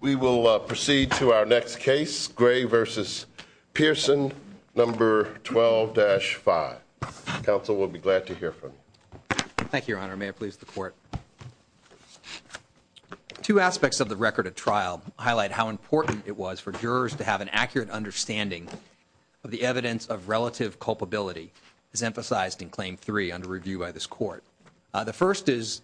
We will proceed to our next case. Gray versus Pearson number 12-5. Council will be glad to hear from you. Thank you, Your Honor. May it please the court. Two aspects of the record of trial highlight how important it was for jurors to have an accurate understanding of the evidence of relative culpability. This is emphasized in Claim 3 under review by this court. The first is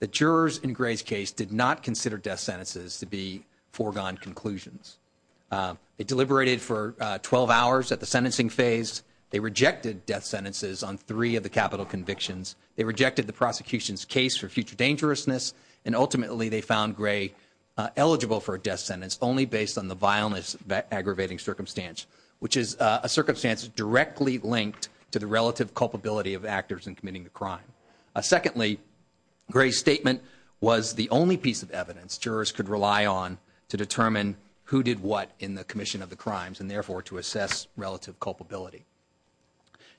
that jurors in Gray's case did not consider death sentences to be foregone conclusions. They deliberated for 12 hours at the sentencing phase. They rejected death sentences on three of the capital convictions. They rejected the prosecution's case for future dangerousness. And ultimately, they found Gray eligible for a death sentence only based on the vileness aggravating circumstance, which is a circumstance directly linked to the relative culpability of actors in committing the crime. Secondly, Gray's statement was the only piece of evidence jurors could rely on to determine who did what in the commission of the crimes and therefore to assess relative culpability.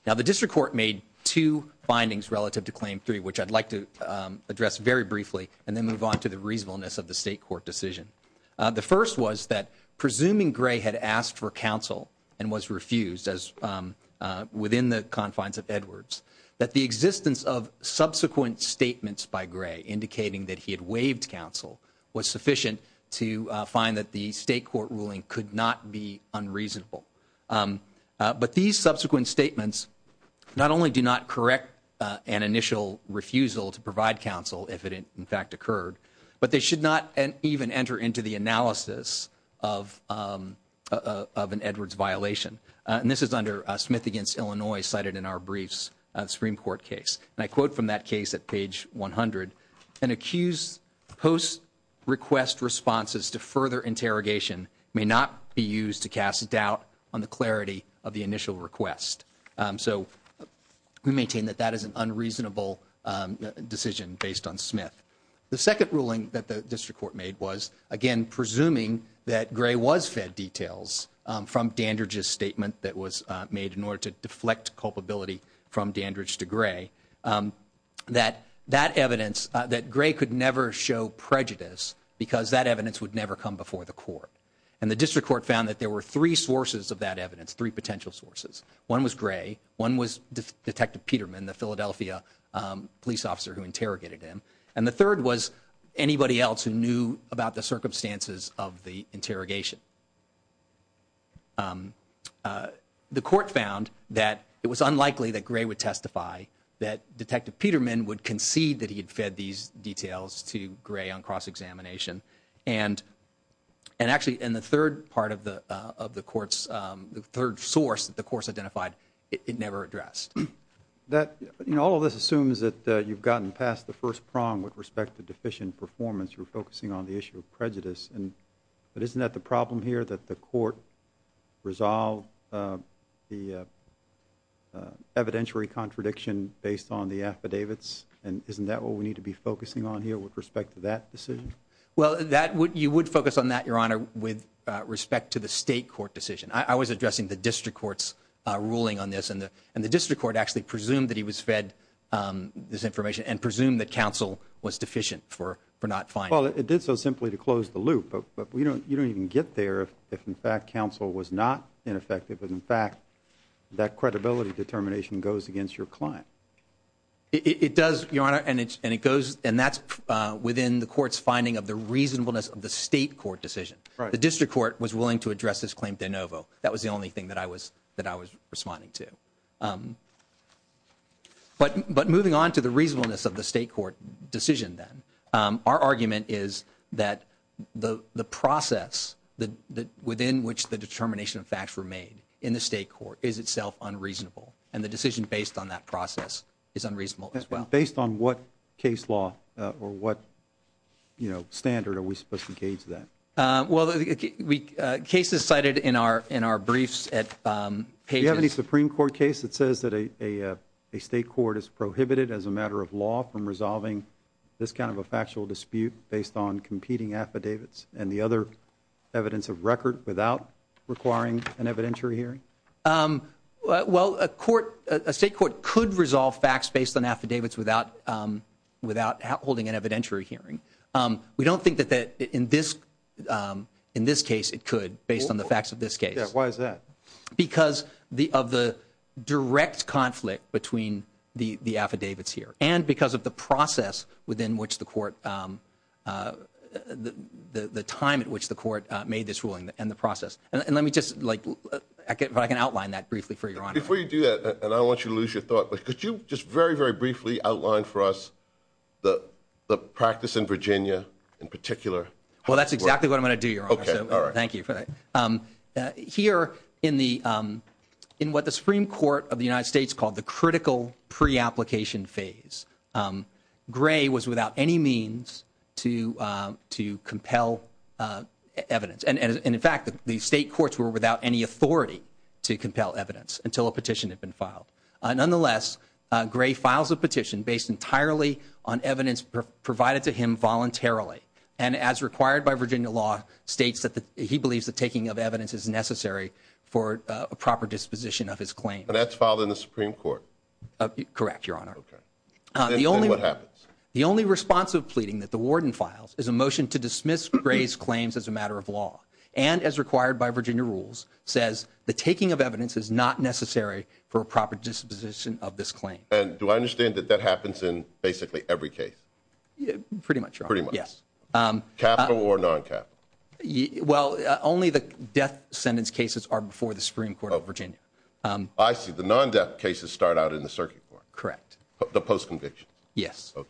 Now, the district court made two findings relative to Claim 3, which I'd like to address very briefly and then move on to the reasonableness of the state court decision. The first was that presuming Gray had asked for counsel and was refused within the confines of Edwards, that the existence of subsequent statements by Gray indicating that he had waived counsel was sufficient to find that the state court ruling could not be unreasonable. But these subsequent statements not only do not correct an initial refusal to provide counsel if it in fact occurred, but they should not even enter into the analysis of an Edwards violation. And this is under Smith v. Illinois, cited in our briefs, a Supreme Court case. And I quote from that case at page 100, an accused post-request responses to further interrogation may not be used to cast doubt on the clarity of the initial request. So we maintain that that is an unreasonable decision based on Smith. The second ruling that the district court made was, again, presuming that Gray was fed details from Dandridge's statement that was made in order to deflect culpability from Dandridge to Gray, that that evidence, that Gray could never show prejudice because that evidence would never come before the court. And the district court found that there were three sources of that evidence, three potential sources. One was Gray. One was Detective Peterman, the Philadelphia police officer who interrogated him. And the third was anybody else who knew about the circumstances of the interrogation. The court found that it was unlikely that Gray would testify, that Detective Peterman would concede that he had fed these details to Gray on cross-examination. And actually, in the third part of the court's, the third source that the court identified, it never addressed. All of this assumes that you've gotten past the first prong with respect to deficient performance. You're focusing on the issue of prejudice. But isn't that the problem here, that the court resolved the evidentiary contradiction based on the affidavits? And isn't that what we need to be focusing on here with respect to that decision? Well, you would focus on that, Your Honor, with respect to the state court decision. I was addressing the district court's ruling on this, and the district court actually presumed that he was fed this information and presumed that counsel was deficient for not finding it. Well, it did so simply to close the loop. But you don't even get there if, in fact, counsel was not ineffective, and, in fact, that credibility determination goes against your client. It does, Your Honor, and it goes, and that's within the court's finding of the reasonableness of the state court decision. The district court was willing to address this claim de novo. That was the only thing that I was responding to. But moving on to the reasonableness of the state court decision then, our argument is that the process within which the determination of facts were made in the state court is itself unreasonable, and the decision based on that process is unreasonable as well. Based on what case law or what standard are we supposed to gauge that? Well, cases cited in our briefs at pages. Do you have any Supreme Court case that says that a state court is prohibited as a matter of law from resolving this kind of a factual dispute based on competing affidavits and the other evidence of record without requiring an evidentiary hearing? Well, a court, a state court could resolve facts based on affidavits without holding an evidentiary hearing. We don't think that in this case it could based on the facts of this case. Why is that? Because of the direct conflict between the affidavits here and because of the process within which the court, the time at which the court made this ruling and the process. And let me just, like, if I can outline that briefly for Your Honor. Before you do that, and I don't want you to lose your thought, but could you just very, very briefly outline for us the practice in Virginia in particular? Well, that's exactly what I'm going to do, Your Honor, so thank you for that. Here in what the Supreme Court of the United States called the critical pre-application phase, Gray was without any means to compel evidence. And, in fact, the state courts were without any authority to compel evidence until a petition had been filed. Nonetheless, Gray files a petition based entirely on evidence provided to him voluntarily. And as required by Virginia law, states that he believes the taking of evidence is necessary for a proper disposition of his claim. But that's filed in the Supreme Court. Correct, Your Honor. Okay. Then what happens? The only responsive pleading that the warden files is a motion to dismiss Gray's claims as a matter of law. And, as required by Virginia rules, says the taking of evidence is not necessary for a proper disposition of this claim. And do I understand that that happens in basically every case? Pretty much, Your Honor. Pretty much. Yes. Capital or non-capital? Well, only the death sentence cases are before the Supreme Court of Virginia. I see. The non-death cases start out in the circuit court. Correct. The post-conviction. Yes. Okay.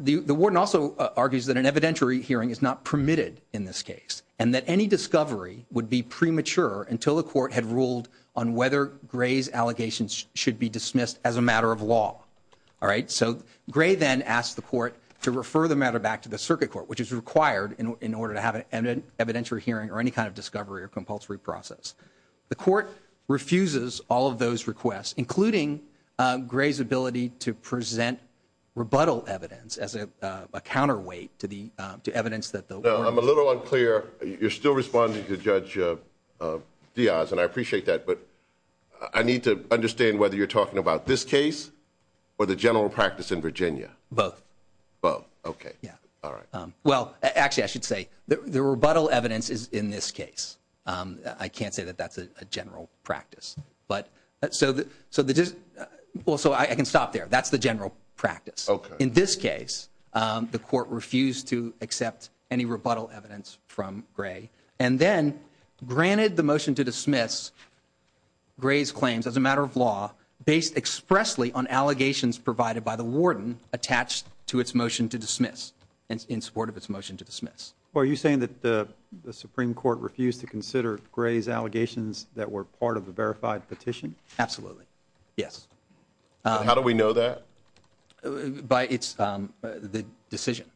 The warden also argues that an evidentiary hearing is not permitted in this case, and that any discovery would be premature until the court had ruled on whether Gray's allegations should be dismissed as a matter of law. All right? So Gray then asks the court to refer the matter back to the circuit court, which is required in order to have an evidentiary hearing or any kind of discovery or compulsory process. The court refuses all of those requests, including Gray's ability to present rebuttal evidence as a counterweight to evidence that the warden No, I'm a little unclear. You're still responding to Judge Diaz, and I appreciate that. But I need to understand whether you're talking about this case or the general practice in Virginia. Both. Both. Okay. Yeah. All right. Well, actually, I should say the rebuttal evidence is in this case. I can't say that that's a general practice. So I can stop there. That's the general practice. Okay. In this case, the court refused to accept any rebuttal evidence from Gray, and then granted the motion to dismiss Gray's claims as a matter of law based expressly on allegations provided by the warden Well, are you saying that the Supreme Court refused to consider Gray's allegations that were part of the verified petition? Absolutely. Yes. How do we know that? By its decision.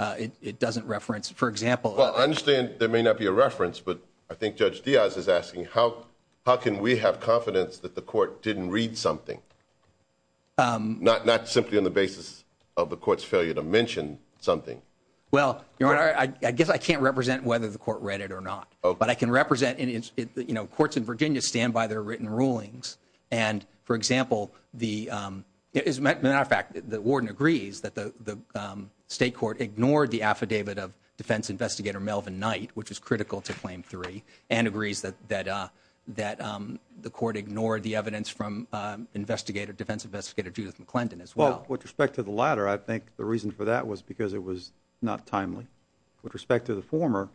It doesn't reference, for example. Well, I understand there may not be a reference, but I think Judge Diaz is asking how can we have confidence that the court didn't read something? Not simply on the basis of the court's failure to mention something. Well, Your Honor, I guess I can't represent whether the court read it or not. But I can represent courts in Virginia stand by their written rulings. And, for example, as a matter of fact, the warden agrees that the state court ignored the affidavit of defense investigator Melvin Knight, which is critical to Claim 3, and agrees that the court ignored the evidence from defense investigator Judith McClendon as well. Well, with respect to the latter, I think the reason for that was because it was not timely. With respect to the former,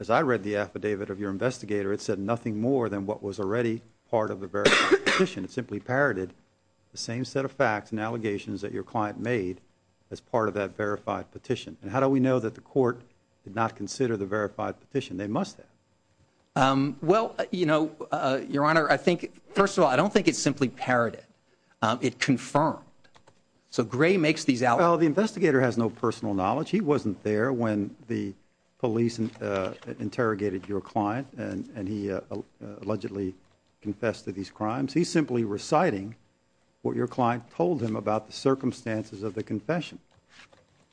as I read the affidavit of your investigator, it said nothing more than what was already part of the verified petition. It simply parroted the same set of facts and allegations that your client made as part of that verified petition. And how do we know that the court did not consider the verified petition? They must have. Well, you know, Your Honor, I think. First of all, I don't think it's simply parroted. It confirmed. So Gray makes these out. Well, the investigator has no personal knowledge. He wasn't there when the police interrogated your client, and he allegedly confessed to these crimes. He's simply reciting what your client told him about the circumstances of the confession.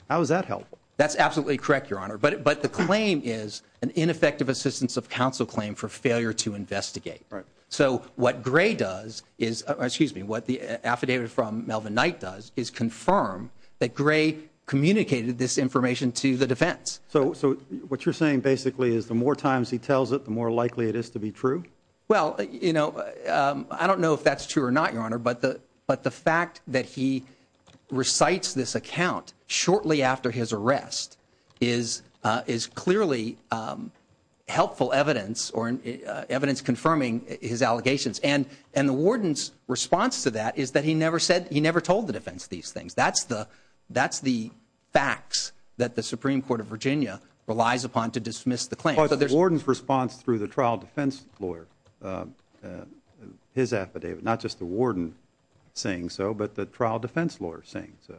How is that helpful? That's absolutely correct, Your Honor. But the claim is an ineffective assistance of counsel claim for failure to investigate. So what Gray does is excuse me. What the affidavit from Melvin Knight does is confirm that Gray communicated this information to the defense. So what you're saying basically is the more times he tells it, the more likely it is to be true. Well, you know, I don't know if that's true or not, Your Honor. But the fact that he recites this account shortly after his arrest is clearly helpful evidence or evidence confirming his allegations. And the warden's response to that is that he never said he never told the defense these things. That's the facts that the Supreme Court of Virginia relies upon to dismiss the claim. But the warden's response through the trial defense lawyer, his affidavit, not just the warden saying so, but the trial defense lawyer saying so.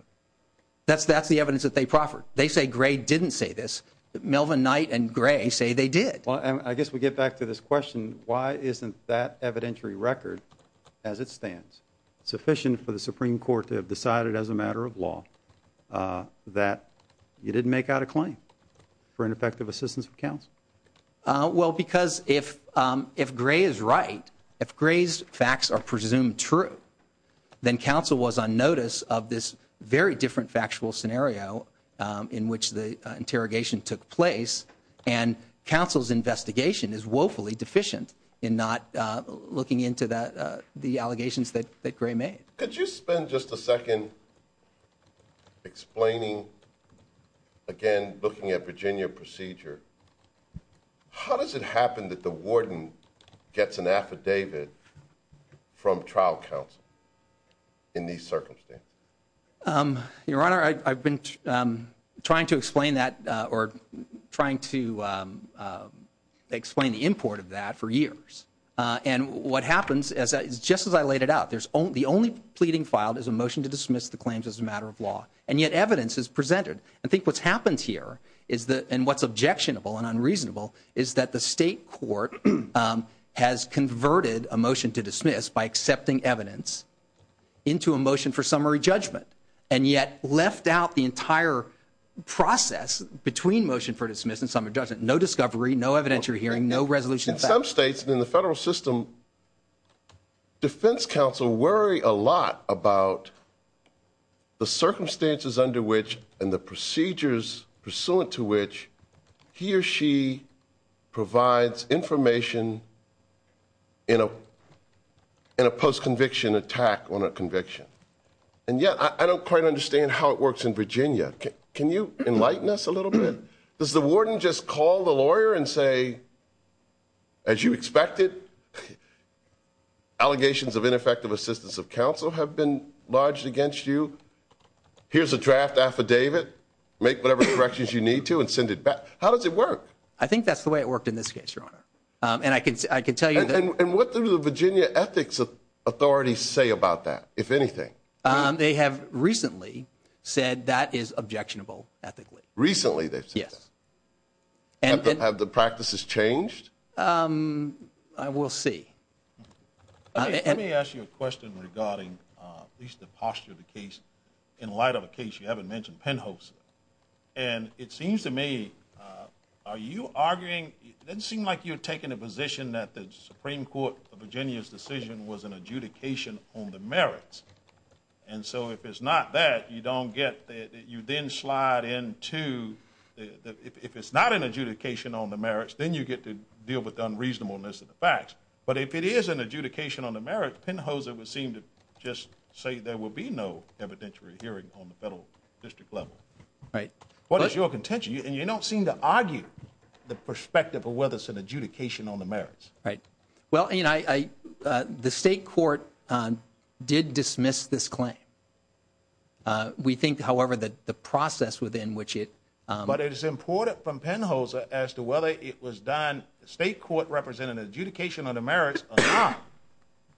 That's the evidence that they proffered. They say Gray didn't say this. Melvin Knight and Gray say they did. Well, I guess we get back to this question. Why isn't that evidentiary record as it stands sufficient for the Supreme Court to have decided as a matter of law that you didn't make out a claim for ineffective assistance for counsel? Well, because if if Gray is right, if Gray's facts are presumed true, then counsel was on notice of this very different factual scenario in which the interrogation took place. And counsel's investigation is woefully deficient in not looking into the allegations that Gray made. Could you spend just a second explaining, again, looking at Virginia procedure? How does it happen that the warden gets an affidavit from trial counsel in these circumstances? Your Honor, I've been trying to explain that or trying to explain the import of that for years. And what happens is just as I laid it out, there's only the only pleading filed is a motion to dismiss the claims as a matter of law. And I think what's happened here is that and what's objectionable and unreasonable is that the state court has converted a motion to dismiss by accepting evidence into a motion for summary judgment. And yet left out the entire process between motion for dismiss and summary judgment. No discovery, no evidentiary hearing, no resolution. In some states, in the federal system, defense counsel worry a lot about the circumstances under which and the procedures pursuant to which he or she provides information in a post-conviction attack on a conviction. And yet I don't quite understand how it works in Virginia. Can you enlighten us a little bit? Does the warden just call the lawyer and say, as you expected, allegations of ineffective assistance of counsel have been lodged against you? Here's a draft affidavit. Make whatever corrections you need to and send it back. How does it work? I think that's the way it worked in this case, Your Honor. And I can tell you that. And what do the Virginia ethics authorities say about that, if anything? They have recently said that is objectionable ethically. Recently they've said that? Yes. Have the practices changed? I will see. Let me ask you a question regarding at least the posture of the case in light of a case you haven't mentioned, Penhose. And it seems to me, are you arguing, it doesn't seem like you're taking a position that the Supreme Court of Virginia's decision was an adjudication on the merits. And so if it's not that, you then slide into, if it's not an adjudication on the merits, then you get to deal with the unreasonableness of the facts. But if it is an adjudication on the merits, Penhose would seem to just say there will be no evidentiary hearing on the federal district level. Right. What is your contention? And you don't seem to argue the perspective of whether it's an adjudication on the merits. Right. Well, you know, the state court did dismiss this claim. We think, however, that the process within which it. But it is important from Penhose as to whether it was done, the state court represented an adjudication on the merits or not.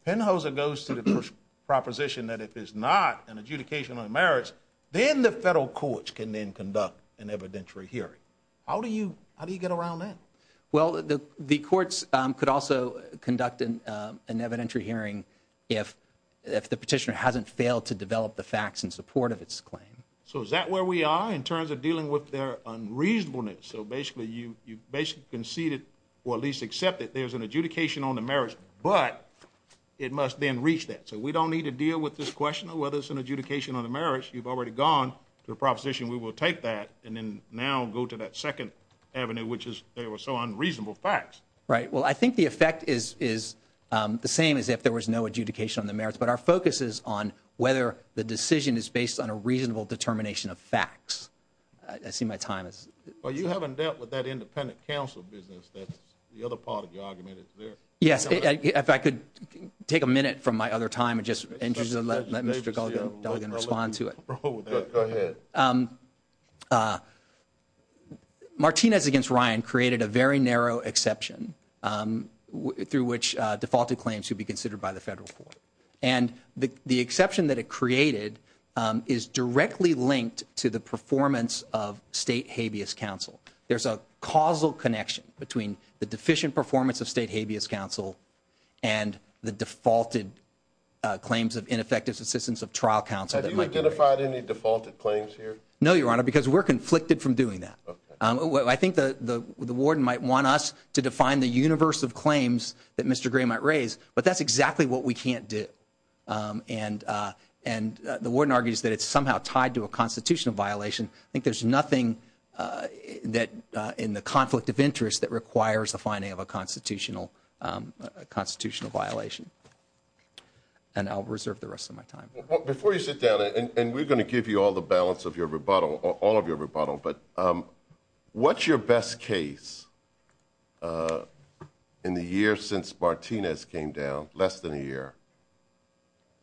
Penhose goes to the proposition that if it's not an adjudication on the merits, then the federal courts can then conduct an evidentiary hearing. How do you get around that? Well, the courts could also conduct an evidentiary hearing if the petitioner hasn't failed to develop the facts in support of its claim. So is that where we are in terms of dealing with their unreasonableness? So basically you basically conceded or at least accepted there's an adjudication on the merits, but it must then reach that. So we don't need to deal with this question of whether it's an adjudication on the merits. You've already gone to the proposition. We will take that and then now go to that second avenue, which is they were so unreasonable facts. Right. Well, I think the effect is is the same as if there was no adjudication on the merits. But our focus is on whether the decision is based on a reasonable determination of facts. I see my time is. Well, you haven't dealt with that independent counsel business. The other part of the argument is there. Yes. If I could take a minute from my other time and just let me respond to it. Go ahead. Martinez against Ryan created a very narrow exception through which defaulted claims should be considered by the federal court. And the exception that it created is directly linked to the performance of state habeas counsel. There's a causal connection between the deficient performance of state habeas counsel and the defaulted claims of ineffective assistance of trial counsel. Have you identified any defaulted claims here? No, Your Honor, because we're conflicted from doing that. I think the warden might want us to define the universe of claims that Mr. Gray might raise, but that's exactly what we can't do. And and the warden argues that it's somehow tied to a constitutional violation. I think there's nothing that in the conflict of interest that requires the finding of a constitutional constitutional violation. And I'll reserve the rest of my time before you sit down and we're going to give you all the balance of your rebuttal or all of your rebuttal. But what's your best case in the year since Martinez came down less than a year.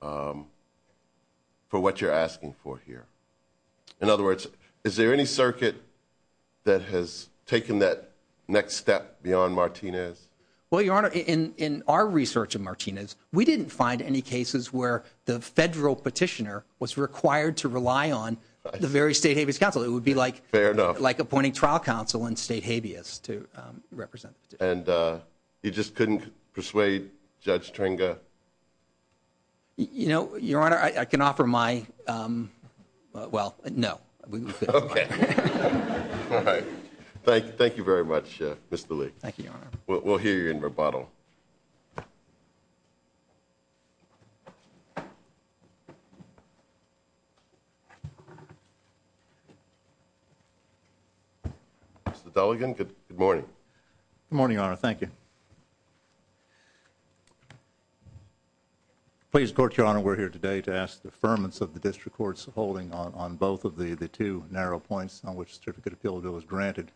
For what you're asking for here. In other words, is there any circuit that has taken that next step beyond Martinez? Well, Your Honor, in our research of Martinez, we didn't find any cases where the federal petitioner was required to rely on the very state habeas counsel. It would be like fair enough, like appointing trial counsel and state habeas to represent. And you just couldn't persuade Judge Tringa. You know, Your Honor, I can offer my. Well, no. Thank you. Thank you very much, Mr. Lee. Thank you. We'll hear you in rebuttal. It's the delegate. Good morning. Good morning, Your Honor. Thank you. Please, Court, Your Honor, we're here today to ask the firmness of the district courts holding on both of the two narrow points on which certificate appeal bill is granted.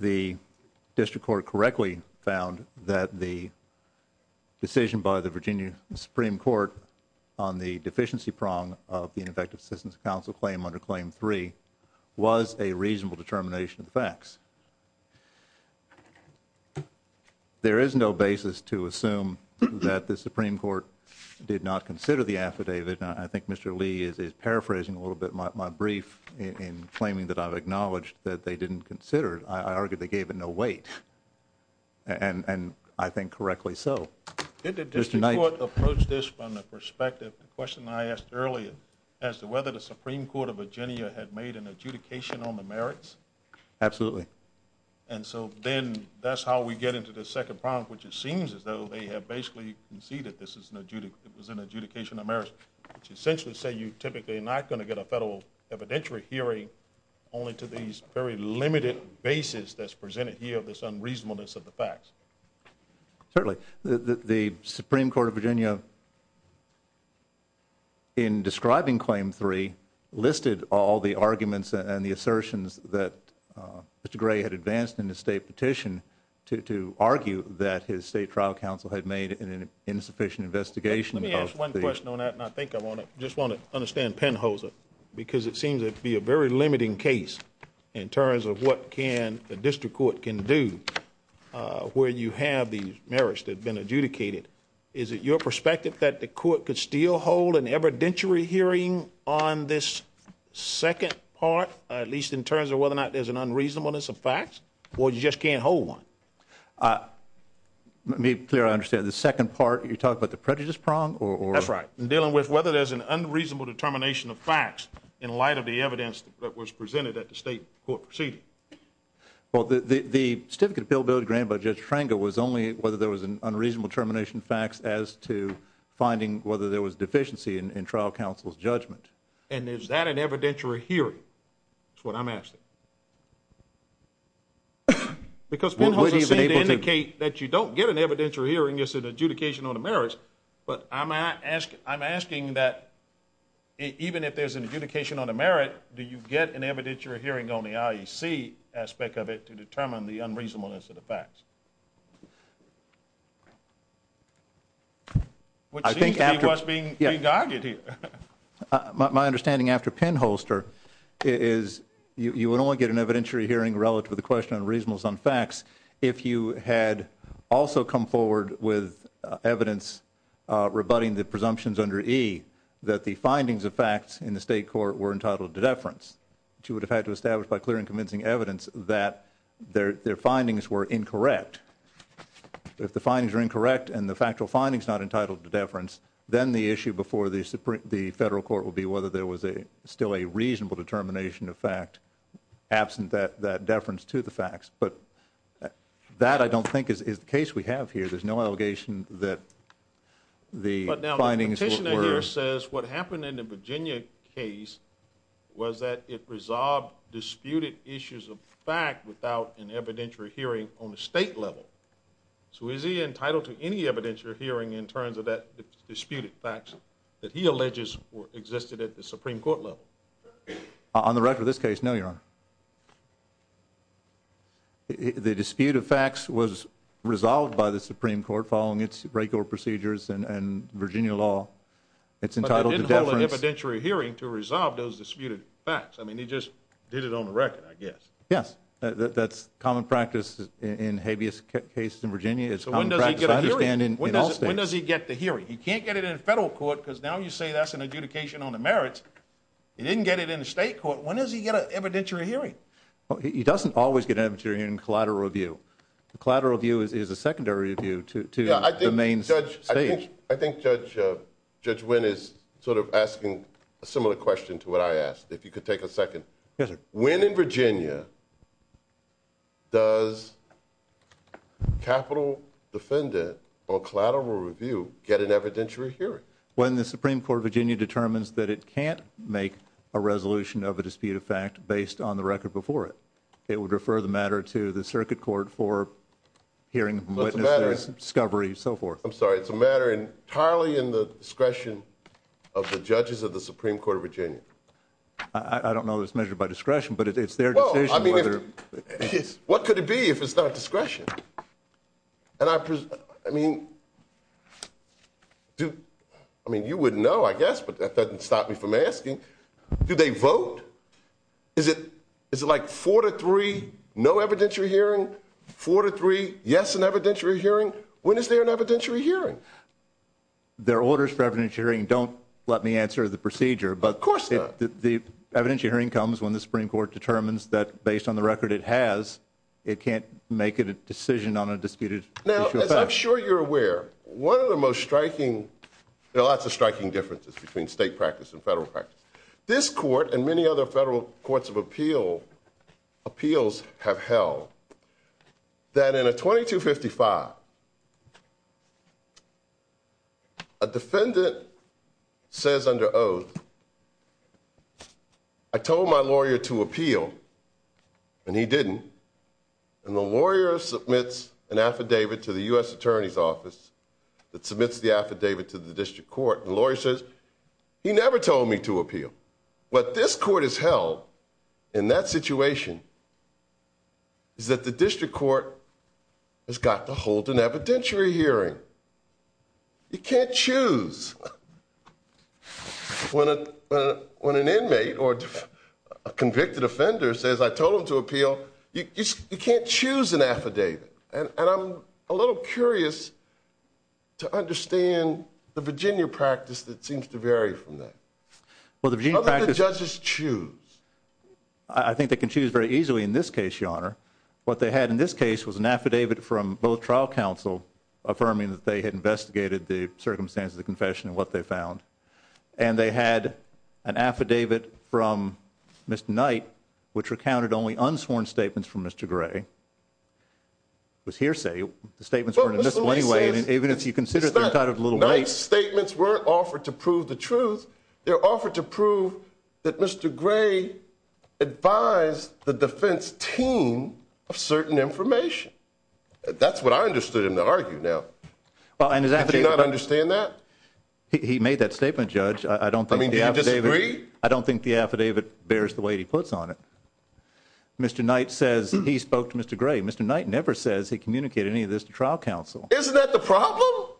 The district court correctly found that the decision by the Virginia Supreme Court on the deficiency prong of the effective assistance council claim under claim three was a reasonable determination of the facts. There is no basis to assume that the Supreme Court did not consider the affidavit. And I think Mr. Lee is paraphrasing a little bit my brief in claiming that I've acknowledged that they didn't consider it. I argue they gave it no weight and I think correctly. So did the district court approach this from the perspective? The question I asked earlier as to whether the Supreme Court of Virginia had made an adjudication on the merits. Absolutely. And so then that's how we get into the second prompt, which it seems as though they have basically conceded. This is an adjudicate. It was an adjudication of marriage, which essentially say you typically not going to get a federal evidentiary hearing only to these very limited basis that's presented here. This unreasonableness of the facts. Certainly the Supreme Court of Virginia. In describing claim three listed all the arguments and the assertions that Mr. Gray had advanced in the state petition to argue that his state trial council had made an insufficient investigation. Let me ask one question on that. And I think I want to just want to understand Penholzer because it seems to be a very limiting case in terms of what can the district court can do where you have these merits that have been adjudicated. Is it your perspective that the court could still hold an evidentiary hearing on this second part? At least in terms of whether or not there's an unreasonableness of facts or you just can't hold one. Let me clear. I understand the second part. You talk about the prejudice prong or. That's right. Dealing with whether there's an unreasonable determination of facts in light of the evidence that was presented at the state court proceeding. Well, the certificate of appeal bill granted by Judge Schrenger was only whether there was an unreasonable determination of facts as to finding whether there was deficiency in trial counsel's judgment. And is that an evidentiary hearing? That's what I'm asking. Because Penholzer seemed to indicate that you don't get an evidentiary hearing as an adjudication on the merits. But I'm asking that even if there's an adjudication on the merit, do you get an evidentiary hearing on the IEC aspect of it to determine the unreasonableness of the facts? Which seems to be what's being regarded here. My understanding after Penholzer is you would only get an evidentiary hearing relative to the question of reasonableness on facts if you had also come forward with evidence rebutting the presumptions under E that the findings of facts in the state court were entitled to deference. Which you would have had to establish by clear and convincing evidence that their findings were incorrect. If the findings are incorrect and the factual findings are not entitled to deference, then the issue before the federal court would be whether there was still a reasonable determination of fact absent that deference to the facts. But that I don't think is the case we have here. There's no allegation that the findings were... So is he entitled to any evidentiary hearing in terms of that disputed facts that he alleges existed at the Supreme Court level? On the record of this case, no, Your Honor. The dispute of facts was resolved by the Supreme Court following its regular procedures and Virginia law. It's entitled to deference... But they didn't hold an evidentiary hearing to resolve those disputed facts. I mean, he just did it on the record, I guess. Yes. That's common practice in habeas cases in Virginia. So when does he get a hearing? When does he get the hearing? He can't get it in federal court because now you say that's an adjudication on the merits. He didn't get it in the state court. When does he get an evidentiary hearing? He doesn't always get an evidentiary hearing in collateral review. Collateral review is a secondary review to the main stage. I think Judge Wynn is sort of asking a similar question to what I asked, if you could take a second. Yes, sir. When in Virginia does capital defendant or collateral review get an evidentiary hearing? When the Supreme Court of Virginia determines that it can't make a resolution of a dispute of fact based on the record before it. It would refer the matter to the circuit court for hearing, witness, discovery, so forth. I'm sorry. It's a matter entirely in the discretion of the judges of the Supreme Court of Virginia. I don't know this measure by discretion, but it's their decision. What could it be if it's not discretion? And I mean, I mean, you wouldn't know, I guess, but that doesn't stop me from asking. Do they vote? Is it is it like four to three? No evidentiary hearing. Four to three. Yes. An evidentiary hearing. When is there an evidentiary hearing? Their orders for evidentiary hearing don't let me answer the procedure. But of course, the evidentiary hearing comes when the Supreme Court determines that based on the record it has, it can't make a decision on a disputed issue of fact. Now, as I'm sure you're aware, one of the most striking, there are lots of striking differences between state practice and federal practice. This court and many other federal courts of appeal appeals have held that in a 2255. A defendant says under oath. I told my lawyer to appeal and he didn't. And the lawyer submits an affidavit to the U.S. Attorney's Office that submits the affidavit to the district court. The lawyer says he never told me to appeal. What this court has held in that situation. Is that the district court has got to hold an evidentiary hearing. You can't choose when a when an inmate or a convicted offender says I told him to appeal. You can't choose an affidavit. And I'm a little curious to understand the Virginia practice that seems to vary from that. Well, the judges choose. I think they can choose very easily in this case, your honor. What they had in this case was an affidavit from both trial counsel affirming that they had investigated the circumstances of confession and what they found. And they had an affidavit from Mr. Knight, which recounted only unsworn statements from Mr. Gray. It was hearsay. The statements weren't admissible anyway. Even if you consider it a little late. Knight's statements weren't offered to prove the truth. They're offered to prove that Mr. Gray advised the defense team of certain information. That's what I understood him to argue now. Well, and his affidavit. Do you not understand that? He made that statement, judge. I don't think I don't think the affidavit bears the weight he puts on it. Mr. Knight says he spoke to Mr. Gray. Mr. Knight never says he communicated any of this to trial counsel. Isn't that the problem?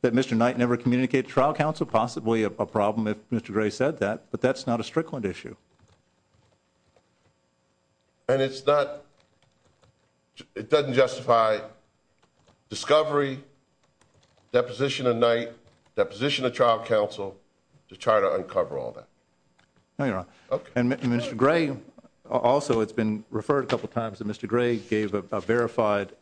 That Mr. Knight never communicated trial counsel, possibly a problem if Mr. Gray said that. But that's not a Strickland issue. And it's not. It doesn't justify. Discovery. Deposition of night. Deposition of trial counsel. To try to uncover all that. And Mr. Gray. Also, it's been referred a couple of times that Mr. Gray gave a verified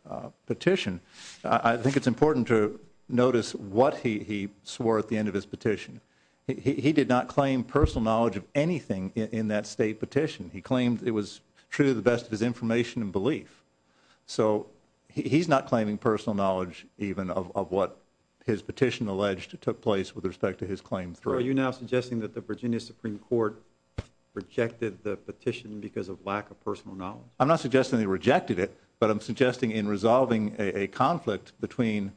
petition. I think it's important to notice what he swore at the end of his petition. He did not claim personal knowledge of anything in that state petition. He claimed it was true. The best of his information and belief. So he's not claiming personal knowledge even of what his petition alleged to took place with respect to his claim. Are you now suggesting that the Virginia Supreme Court rejected the petition because of lack of personal knowledge? I'm not suggesting they rejected it. But I'm suggesting in resolving a conflict between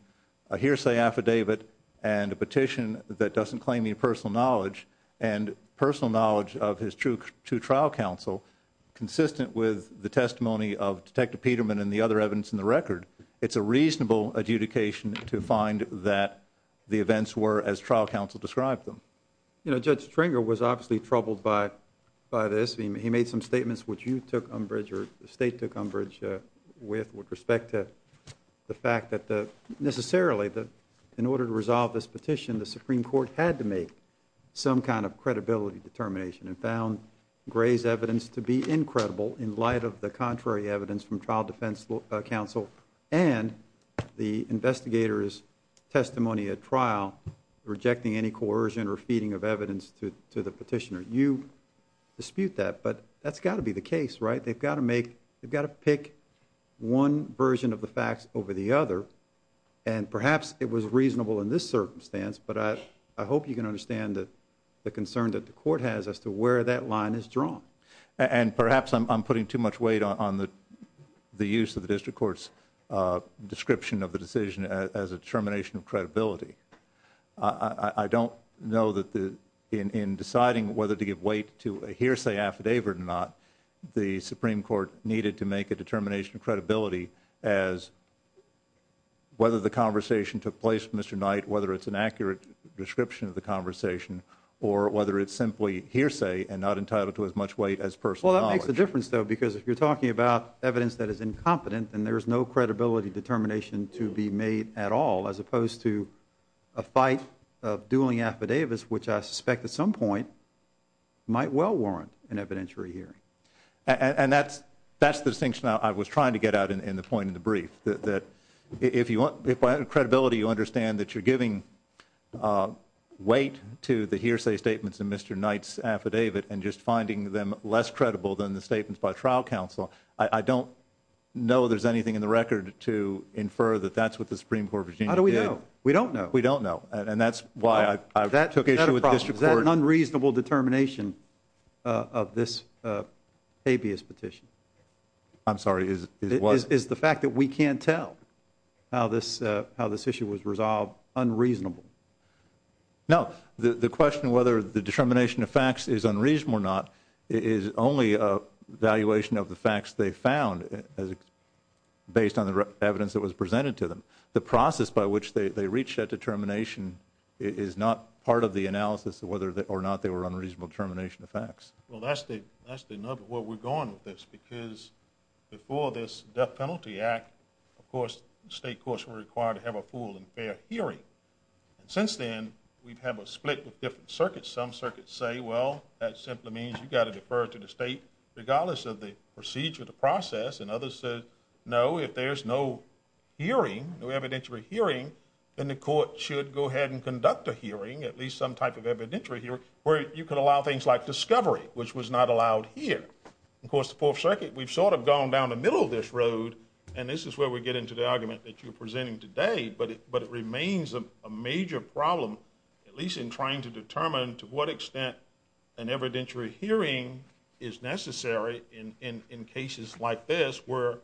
a hearsay affidavit and a petition that doesn't claim any personal knowledge. And personal knowledge of his true trial counsel. Consistent with the testimony of Detective Peterman and the other evidence in the record. It's a reasonable adjudication to find that the events were as trial counsel described them. You know, Judge Stringer was obviously troubled by this. He made some statements which you took umbrage or the state took umbrage with respect to the fact that necessarily in order to resolve this petition, the Supreme Court had to make some kind of credibility determination. And found Gray's evidence to be incredible in light of the contrary evidence from trial defense counsel. And the investigator's testimony at trial rejecting any coercion or feeding of evidence to the petitioner. You dispute that, but that's got to be the case, right? They've got to make, they've got to pick one version of the facts over the other. And perhaps it was reasonable in this circumstance, but I hope you can understand the concern that the court has as to where that line is drawn. And perhaps I'm putting too much weight on the use of the district court's description of the decision as a determination of credibility. I don't know that in deciding whether to give weight to a hearsay affidavit or not, the Supreme Court needed to make a determination of credibility as whether the conversation took place with Mr. Knight, whether it's an accurate description of the conversation, or whether it's simply hearsay and not entitled to as much weight as personal knowledge. Well, that makes a difference though, because if you're talking about evidence that is incompetent, then there's no credibility determination to be made at all as opposed to a fight of dueling affidavits, which I suspect at some point might well warrant an evidentiary hearing. And that's the distinction I was trying to get at in the point in the brief, that if by credibility you understand that you're giving weight to the hearsay statements in Mr. Knight's affidavit and just finding them less credible than the statements by trial counsel, I don't know there's anything in the record to infer that that's what the Supreme Court of Virginia did. How do we know? We don't know. We don't know. And that's why I took issue with district court. Is that an unreasonable determination of this habeas petition? I'm sorry, is what? Is the fact that we can't tell how this issue was resolved unreasonable? No. The question of whether the determination of facts is unreasonable or not is only an evaluation of the facts they found based on the evidence that was presented to them. The process by which they reached that determination is not part of the analysis of whether or not they were an unreasonable determination of facts. Well, that's the nub of where we're going with this, because before this death penalty act, of course, the state courts were required to have a full and fair hearing. And since then, we've had a split with different circuits. Some circuits say, well, that simply means you've got to defer to the state, regardless of the procedure, the process. And others say, no, if there's no hearing, no evidentiary hearing, then the court should go ahead and conduct a hearing, at least some type of evidentiary hearing, where you could allow things like discovery, which was not allowed here. Of course, the Fourth Circuit, we've sort of gone down the middle of this road, and this is where we get into the argument that you're presenting today, but it remains a major problem, at least in trying to determine to what extent an evidentiary hearing is necessary in cases like this, where,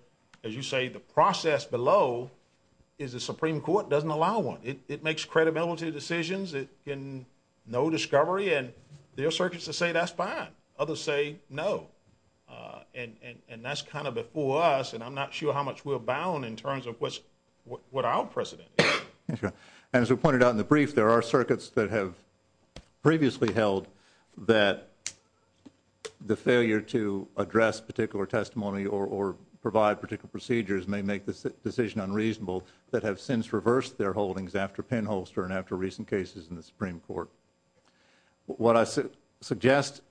as you say, the process below is the Supreme Court doesn't allow one. It makes credibility decisions, no discovery, and there are circuits that say that's fine. Others say no, and that's kind of before us, and I'm not sure how much we're bound in terms of what our precedent is. As we pointed out in the brief, there are circuits that have previously held that the failure to address particular testimony or provide particular procedures may make the decision unreasonable that have since reversed their holdings after Penholster and after recent cases in the Supreme Court. What I suggest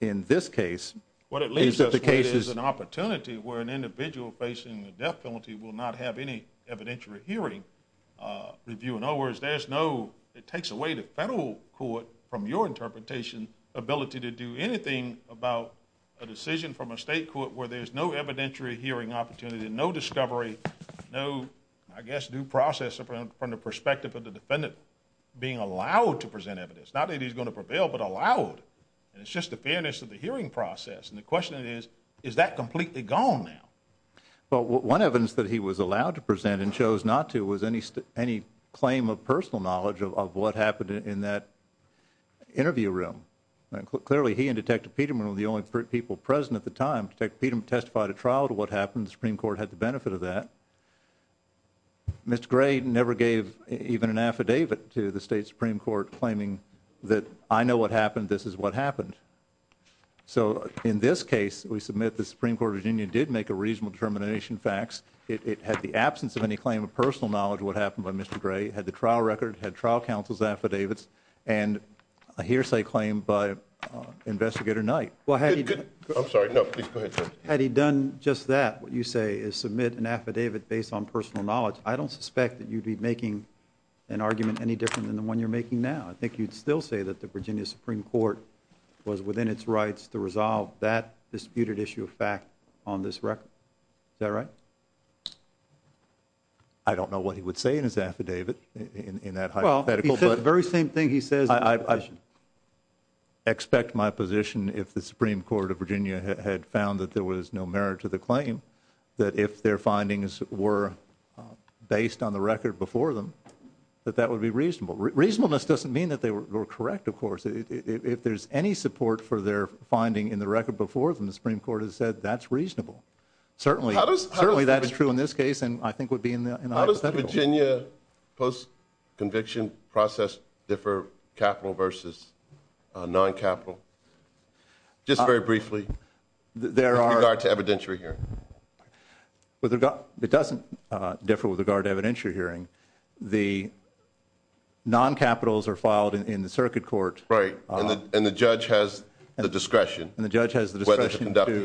in this case is that the case is- What it leaves us with is an opportunity where an individual facing a death penalty will not have any evidentiary hearing review. In other words, it takes away the federal court, from your interpretation, ability to do anything about a decision from a state court where there's no evidentiary hearing opportunity, no discovery, no, I guess, due process from the perspective of the defendant being allowed to present evidence, not that he's going to prevail, but allowed. It's just the fairness of the hearing process, and the question is, is that completely gone now? Well, one evidence that he was allowed to present and chose not to was any claim of personal knowledge of what happened in that interview room. Clearly, he and Detective Peterman were the only people present at the time. Detective Peterman testified at trial to what happened. The Supreme Court had the benefit of that. Mr. Gray never gave even an affidavit to the state Supreme Court claiming that, I know what happened, this is what happened. So, in this case, we submit the Supreme Court of Virginia did make a reasonable determination of facts. It had the absence of any claim of personal knowledge of what happened by Mr. Gray, had the trial record, had trial counsel's affidavits, and a hearsay claim by Investigator Knight. Well, had he- I'm sorry, no, please go ahead, sir. Had he done just that, what you say, is submit an affidavit based on personal knowledge, I don't suspect that you'd be making an argument any different than the one you're making now. I think you'd still say that the Virginia Supreme Court was within its rights to resolve that disputed issue of fact on this record. Is that right? I don't know what he would say in his affidavit, in that hypothetical, but- Well, he said the very same thing he says in his position. If the Supreme Court of Virginia had found that there was no merit to the claim, that if their findings were based on the record before them, that that would be reasonable. Reasonableness doesn't mean that they were correct, of course. If there's any support for their finding in the record before them, the Supreme Court has said that's reasonable. Certainly, that is true in this case, and I think would be in the hypothetical. Does the Virginia post-conviction process differ, capital versus non-capital? Just very briefly, with regard to evidentiary hearing. It doesn't differ with regard to evidentiary hearing. The non-capitals are filed in the circuit court- Right, and the judge has the discretion- And the judge has the discretion to conduct a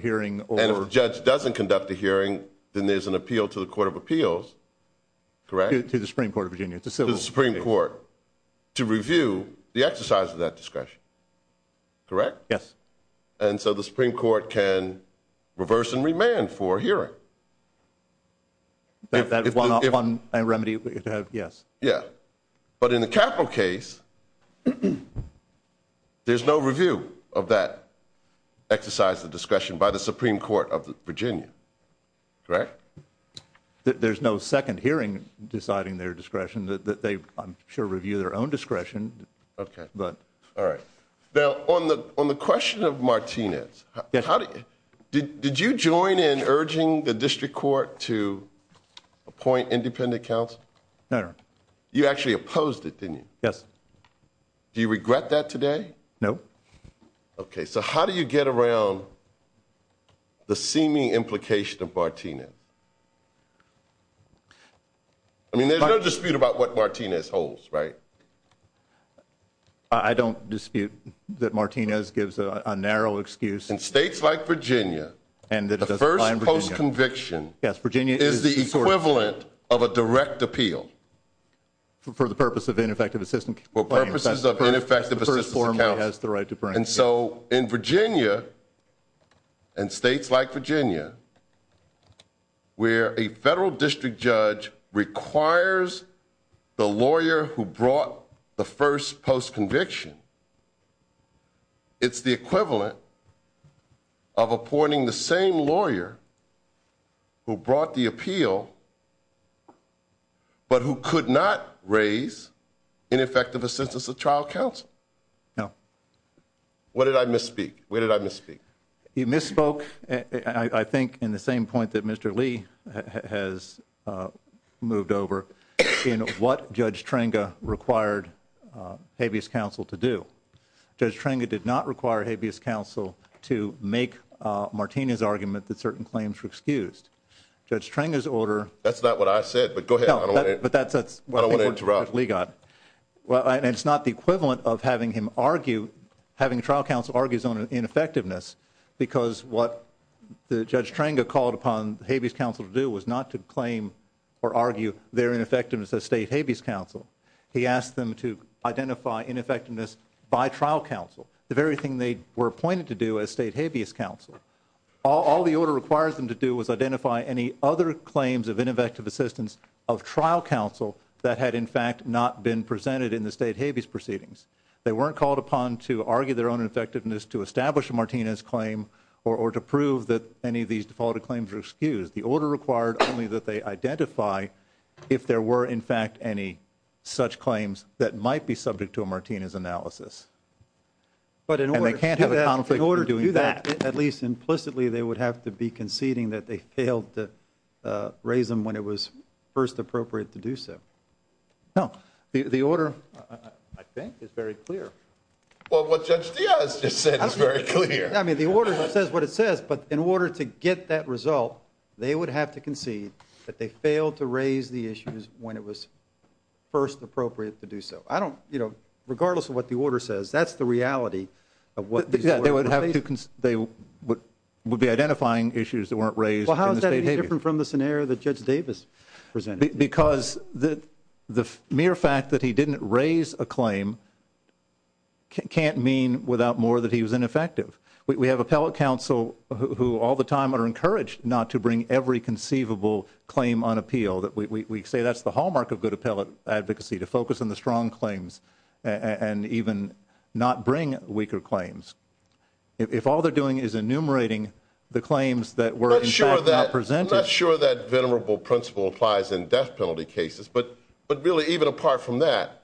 hearing. And if the judge doesn't conduct a hearing, then there's an appeal to the Court of Appeals, correct? To the Supreme Court of Virginia, to civil- To the Supreme Court, to review the exercise of that discretion, correct? Yes. And so the Supreme Court can reverse and remand for a hearing. If that's one remedy to have, yes. But in the capital case, there's no review of that exercise of discretion by the Supreme Court of Virginia, correct? There's no second hearing deciding their discretion. They, I'm sure, review their own discretion. Now, on the question of Martinez, did you join in urging the district court to appoint independent counsel? No, Your Honor. You actually opposed it, didn't you? Yes. Do you regret that today? No. Okay, so how do you get around the seeming implication of Martinez? I mean, there's no dispute about what Martinez holds, right? I don't dispute that Martinez gives a narrow excuse. In states like Virginia, the first post-conviction is the equivalent of a direct appeal. For the purpose of ineffective assistance? For purposes of ineffective assistance accounts. And so in Virginia, in states like Virginia, where a federal district judge requires the lawyer who brought the first post-conviction, it's the equivalent of appointing the same lawyer who brought the appeal, but who could not raise ineffective assistance of trial counsel. No. Where did I misspeak? Where did I misspeak? You misspoke, I think, in the same point that Mr. Lee has moved over in what Judge Trenga required habeas counsel to do. Judge Trenga did not require habeas counsel to make Martinez' argument that certain claims were excused. Judge Trenga's order – That's not what I said, but go ahead. I don't want to interrupt. Well, and it's not the equivalent of having him argue – having trial counsel argue his own ineffectiveness, because what Judge Trenga called upon habeas counsel to do was not to claim or argue their ineffectiveness as state habeas counsel. He asked them to identify ineffectiveness by trial counsel, the very thing they were appointed to do as state habeas counsel. All the order requires them to do is identify any other claims of ineffective assistance of trial counsel that had, in fact, not been presented in the state habeas proceedings. They weren't called upon to argue their own ineffectiveness, to establish a Martinez claim, or to prove that any of these defaulted claims were excused. The order required only that they identify if there were, in fact, any such claims that might be subject to a Martinez analysis. But in order to do that, at least implicitly, they would have to be conceding that they failed to raise them when it was first appropriate to do so. No, the order, I think, is very clear. Well, what Judge Diaz just said is very clear. I mean, the order says what it says, but in order to get that result, they would have to concede that they failed to raise the issues when it was first appropriate to do so. I don't, you know, regardless of what the order says, that's the reality of what these were. They would be identifying issues that weren't raised in the state habeas. Well, how is that any different from the scenario that Judge Davis presented? Because the mere fact that he didn't raise a claim can't mean without more that he was ineffective. We have appellate counsel who all the time are encouraged not to bring every conceivable claim on appeal. We say that's the hallmark of good appellate advocacy, to focus on the strong claims and even not bring weaker claims. If all they're doing is enumerating the claims that were, in fact, not presented. I'm not sure that venerable principle applies in death penalty cases. But really, even apart from that,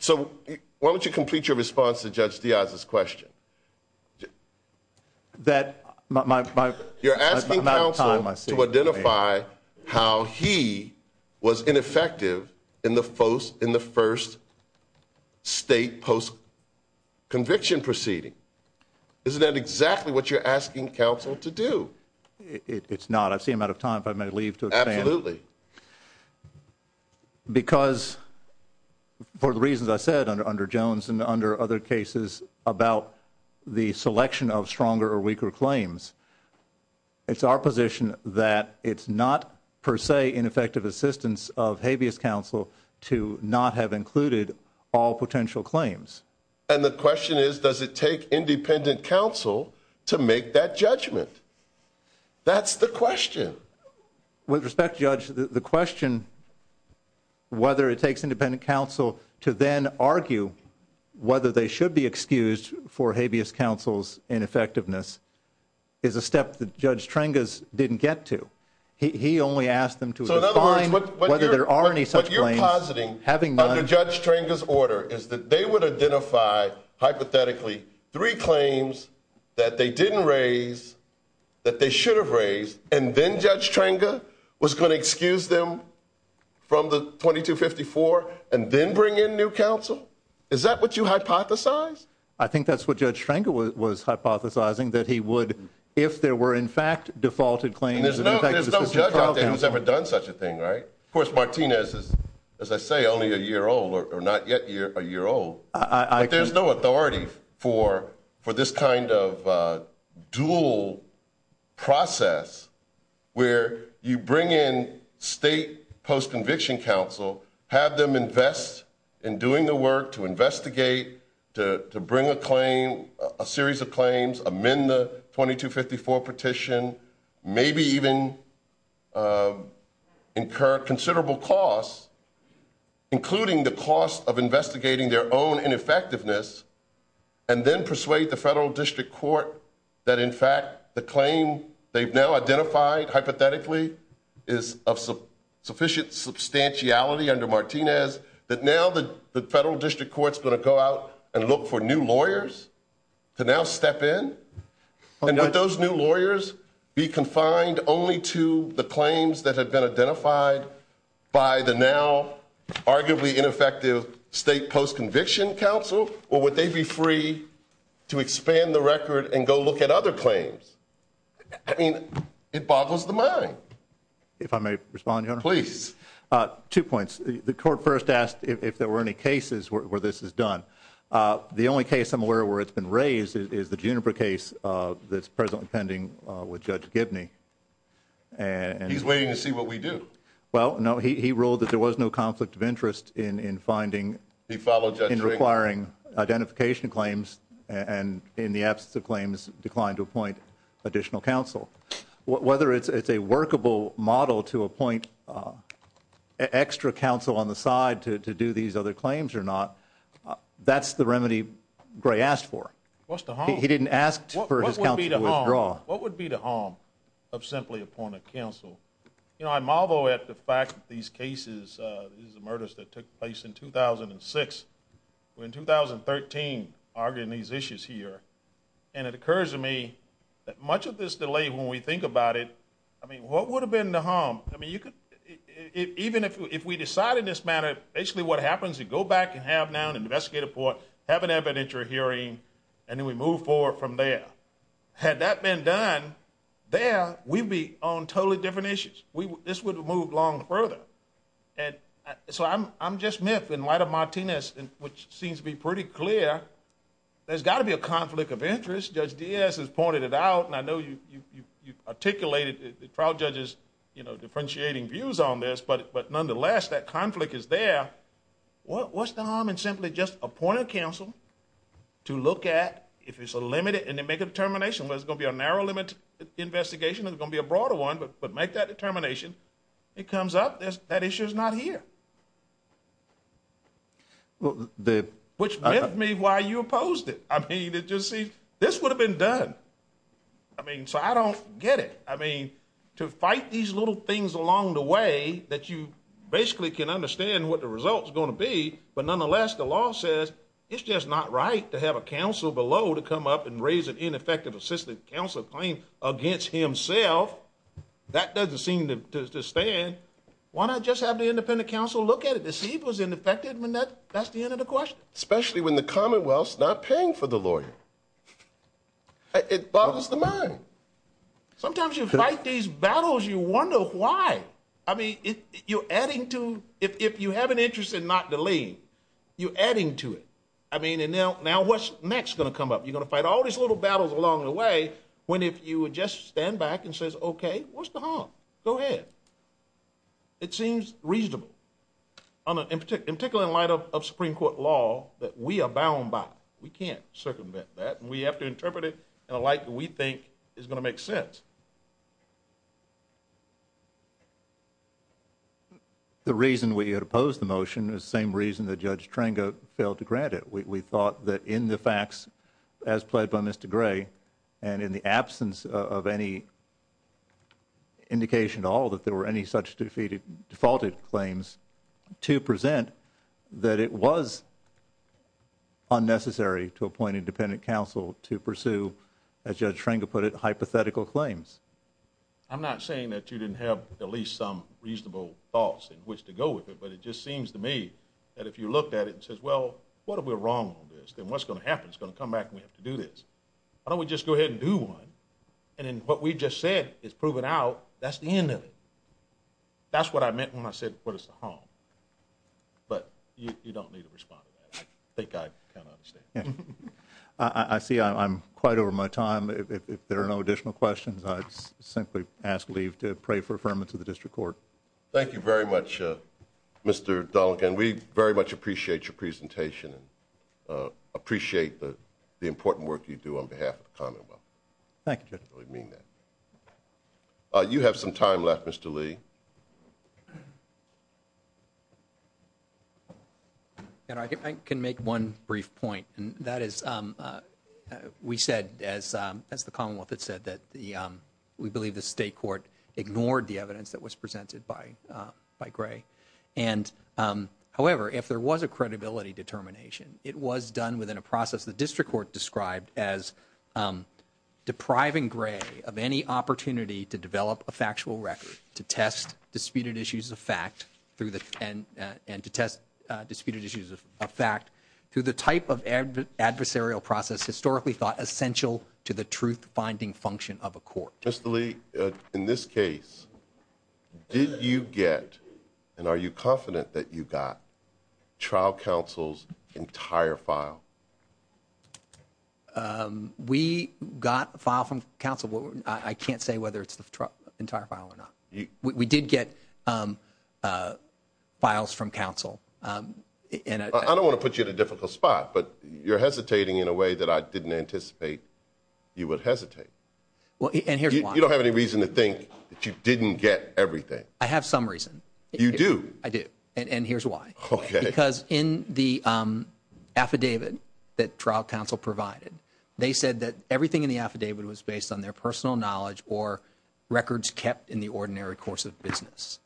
so why don't you complete your response to Judge Diaz's question? You're asking counsel to identify how he was ineffective in the first state post-conviction proceeding. Isn't that exactly what you're asking counsel to do? It's not. I've seen him out of time. If I may leave to expand. Absolutely. Because for the reasons I said under Jones and under other cases about the selection of stronger or weaker claims, it's our position that it's not per se ineffective assistance of habeas counsel to not have included all potential claims. And the question is, does it take independent counsel to make that judgment? That's the question. With respect, Judge, the question, whether it takes independent counsel to then argue whether they should be excused for habeas counsel's ineffectiveness, is a step that Judge Trengaz didn't get to. He only asked them to define whether there are any such claims. What you're positing under Judge Trengaz's order is that they would identify, hypothetically, three claims that they didn't raise, that they should have raised, and then Judge Trengaz was going to excuse them from the 2254 and then bring in new counsel? Is that what you hypothesize? I think that's what Judge Trengaz was hypothesizing, that he would, if there were in fact defaulted claims. There's no judge out there who's ever done such a thing, right? Of course, Martinez is, as I say, only a year old or not yet a year old. But there's no authority for this kind of dual process where you bring in state post-conviction counsel, have them invest in doing the work to investigate, to bring a claim, a series of claims, amend the 2254 petition, maybe even incur considerable costs, including the cost of investigating their own ineffectiveness, and then persuade the federal district court that, in fact, the claim they've now identified, hypothetically, is of sufficient substantiality under Martinez, that now the federal district court's going to go out and look for new lawyers to now step in? And would those new lawyers be confined only to the claims that have been identified by the now arguably ineffective state post-conviction counsel, or would they be free to expand the record and go look at other claims? I mean, it boggles the mind. If I may respond, Your Honor? Please. Two points. The court first asked if there were any cases where this is done. The only case I'm aware of where it's been raised is the Juniper case that's presently pending with Judge Gibney. He's waiting to see what we do. Well, no, he ruled that there was no conflict of interest in finding and requiring identification claims, and in the absence of claims, declined to appoint additional counsel. Whether it's a workable model to appoint extra counsel on the side to do these other claims or not, that's the remedy Gray asked for. What's the harm? He didn't ask for his counsel to withdraw. What would be the harm of simply appointing counsel? You know, I marvel at the fact that these cases, these murders that took place in 2006, were in 2013 arguing these issues here, and it occurs to me that much of this delay, when we think about it, I mean, what would have been the harm? I mean, even if we decided in this manner, basically what happens, you go back and have now an investigative report, have an evidentiary hearing, and then we move forward from there. Had that been done, there, we'd be on totally different issues. This would have moved along further. And so I'm just miffed in light of Martinez, which seems to be pretty clear. There's got to be a conflict of interest. Judge Diaz has pointed it out, and I know you've articulated the trial judge's, you know, differentiating views on this, but nonetheless, that conflict is there. What's the harm in simply just appointing counsel to look at, if it's a limited, and then make a determination whether it's going to be a narrow-limit investigation or it's going to be a broader one, but make that determination? It comes up, that issue's not here, which meant to me why you opposed it. I mean, did you see, this would have been done. I mean, so I don't get it. I mean, to fight these little things along the way that you basically can understand what the result's going to be, but nonetheless, the law says it's just not right to have a counsel below to come up and raise an ineffective assistant counsel claim against himself. That doesn't seem to stand. Why not just have the independent counsel look at it to see if it was ineffective? That's the end of the question. Especially when the Commonwealth's not paying for the lawyer. It bothers the mind. Sometimes you fight these battles, you wonder why. I mean, you're adding to, if you have an interest in not delaying, you're adding to it. I mean, and now what's next going to come up? You're going to fight all these little battles along the way when if you would just stand back and say, okay, what's the harm? Go ahead. It seems reasonable, in particular in light of Supreme Court law that we are bound by. We can't circumvent that, and we have to interpret it in a light that we think is going to make sense. The reason we had opposed the motion is the same reason that Judge Trengo failed to grant it. We thought that in the facts, as played by Mr. Gray, and in the absence of any indication at all that there were any such defaulted claims to present, that it was unnecessary to appoint independent counsel to pursue, as Judge Trengo put it, hypothetical claims. I'm not saying that you didn't have at least some reasonable thoughts in which to go with it, but it just seems to me that if you looked at it and said, well, what are we wrong on this? Then what's going to happen? It's going to come back and we have to do this. Why don't we just go ahead and do one, and then what we just said is proven out. That's the end of it. That's what I meant when I said, what is the harm? But you don't need to respond to that. I think I kind of understand. I see I'm quite over my time. If there are no additional questions, I'd simply ask leave to pray for affirmance of the district court. Thank you very much, Mr. Dolligan. We very much appreciate your presentation and appreciate the important work you do on behalf of the Commonwealth. Thank you, Judge. You have some time left, Mr. Lee. I can make one brief point, and that is we said, as the Commonwealth had said, that we believe the state court ignored the evidence that was presented by Gray. However, if there was a credibility determination, it was done within a process the district court described as depriving Gray of any opportunity to develop a factual record, to test disputed issues of fact through the type of adversarial process historically thought essential to the truth finding function of a court. Mr. Lee, in this case, did you get and are you confident that you got trial counsel's entire file? We got a file from counsel. I can't say whether it's the entire file or not. We did get files from counsel. I don't want to put you in a difficult spot, but you're hesitating in a way that I didn't anticipate you would hesitate. You don't have any reason to think that you didn't get everything. I have some reason. You do? I do, and here's why. Because in the affidavit that trial counsel provided, they said that everything in the affidavit was based on their personal knowledge or records kept in the ordinary course of business.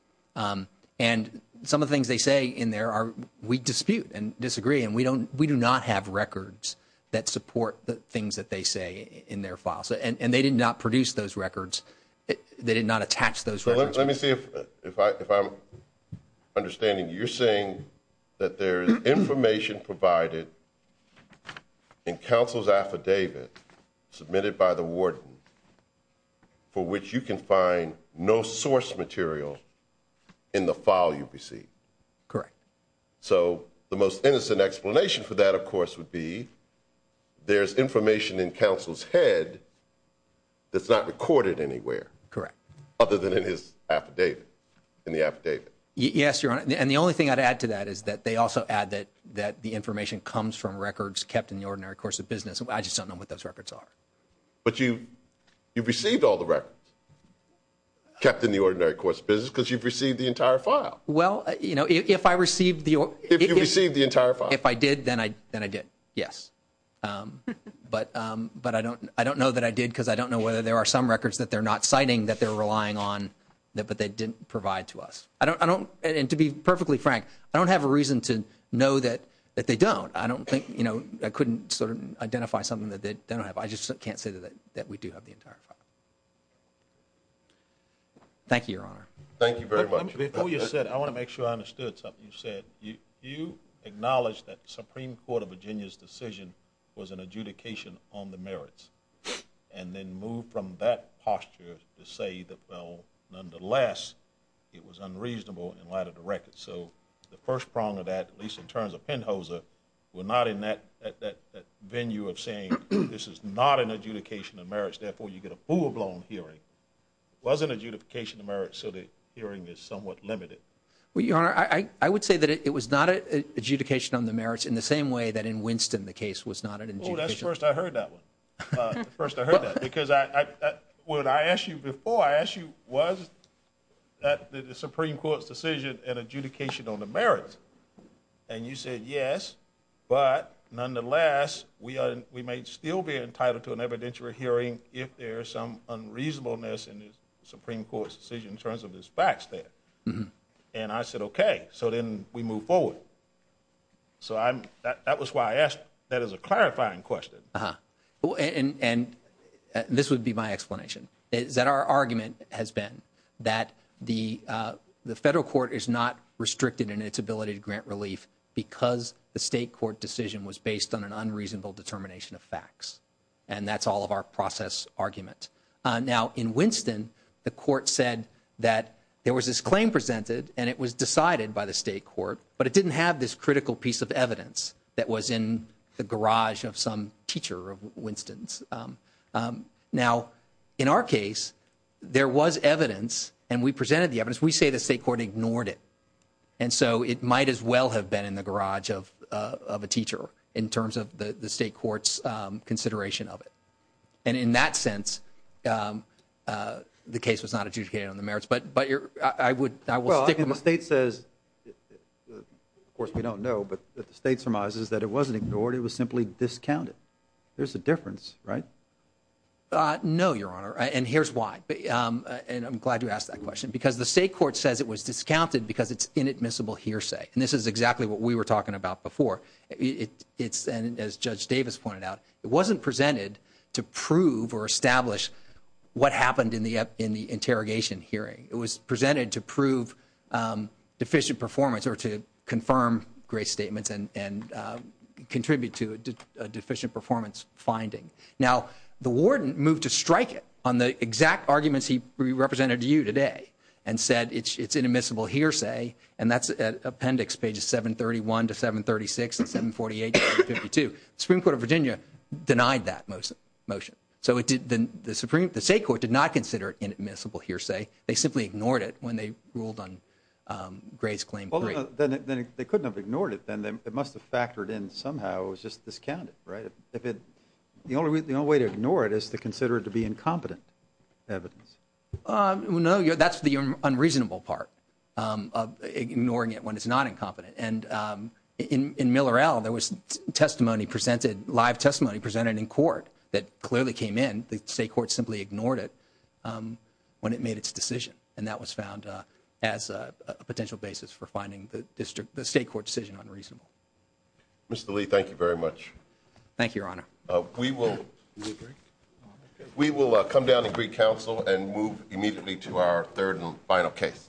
And some of the things they say in there are we dispute and disagree, and we do not have records that support the things that they say in their files. And they did not produce those records. They did not attach those records. Let me see if I'm understanding. You're saying that there is information provided in counsel's affidavit submitted by the warden for which you can find no source material in the file you received. Correct. So the most innocent explanation for that, of course, would be there's information in counsel's head that's not recorded anywhere. Correct. Other than in his affidavit, in the affidavit. Yes, Your Honor. And the only thing I'd add to that is that they also add that the information comes from records kept in the ordinary course of business. I just don't know what those records are. But you've received all the records kept in the ordinary course of business because you've received the entire file. Well, you know, if I received the entire file. If I did, then I did, yes. But I don't know that I did because I don't know whether there are some records that they're not citing that they're relying on, but they didn't provide to us. And to be perfectly frank, I don't have a reason to know that they don't. I couldn't sort of identify something that they don't have. I just can't say that we do have the entire file. Thank you, Your Honor. Thank you very much. Before you said it, I want to make sure I understood something you said. You acknowledged that the Supreme Court of Virginia's decision was an adjudication on the merits and then moved from that posture to say that, well, nonetheless, it was unreasonable in light of the records. So the first prong of that, at least in terms of Penhoser, were not in that venue of saying this is not an adjudication of merits. Therefore, you get a full-blown hearing. It wasn't an adjudication of merits, so the hearing is somewhat limited. Well, Your Honor, I would say that it was not an adjudication on the merits in the same way that in Winston the case was not an adjudication. Oh, that's the first I heard that one, the first I heard that. Because what I asked you before, I asked you was that the Supreme Court's decision an adjudication on the merits, and you said, yes, but nonetheless, we may still be entitled to an evidentiary hearing if there is some unreasonableness in the Supreme Court's decision in terms of its facts there. And I said, okay, so then we move forward. So that was why I asked that as a clarifying question. And this would be my explanation, is that our argument has been that the federal court is not restricted in its ability to grant relief because the state court decision was based on an unreasonable determination of facts. And that's all of our process argument. Now, in Winston, the court said that there was this claim presented, and it was decided by the state court, but it didn't have this critical piece of evidence that was in the garage of some teacher of Winston's. Now, in our case, there was evidence, and we presented the evidence. We say the state court ignored it. And so it might as well have been in the garage of a teacher in terms of the state court's consideration of it. And in that sense, the case was not adjudicated on the merits. Well, the state says, of course we don't know, but the state surmises that it wasn't ignored. It was simply discounted. There's a difference, right? No, Your Honor, and here's why, and I'm glad you asked that question. Because the state court says it was discounted because it's inadmissible hearsay. And this is exactly what we were talking about before. As Judge Davis pointed out, it wasn't presented to prove or establish what happened in the interrogation hearing. It was presented to prove deficient performance or to confirm grace statements and contribute to a deficient performance finding. Now, the warden moved to strike it on the exact arguments he represented to you today and said it's inadmissible hearsay, and that's at appendix pages 731 to 736 and 748 to 752. The Supreme Court of Virginia denied that motion. So the state court did not consider it inadmissible hearsay. They simply ignored it when they ruled on Gray's claim. Well, then they couldn't have ignored it then. It must have factored in somehow. It was just discounted, right? The only way to ignore it is to consider it to be incompetent evidence. Well, no, that's the unreasonable part of ignoring it when it's not incompetent. And in Miller L., there was testimony presented, live testimony presented in court that clearly came in. The state court simply ignored it when it made its decision. And that was found as a potential basis for finding the district, the state court decision unreasonable. Mr. Lee, thank you very much. Thank you, Your Honor. We will come down to Greek Council and move immediately to our third and final case.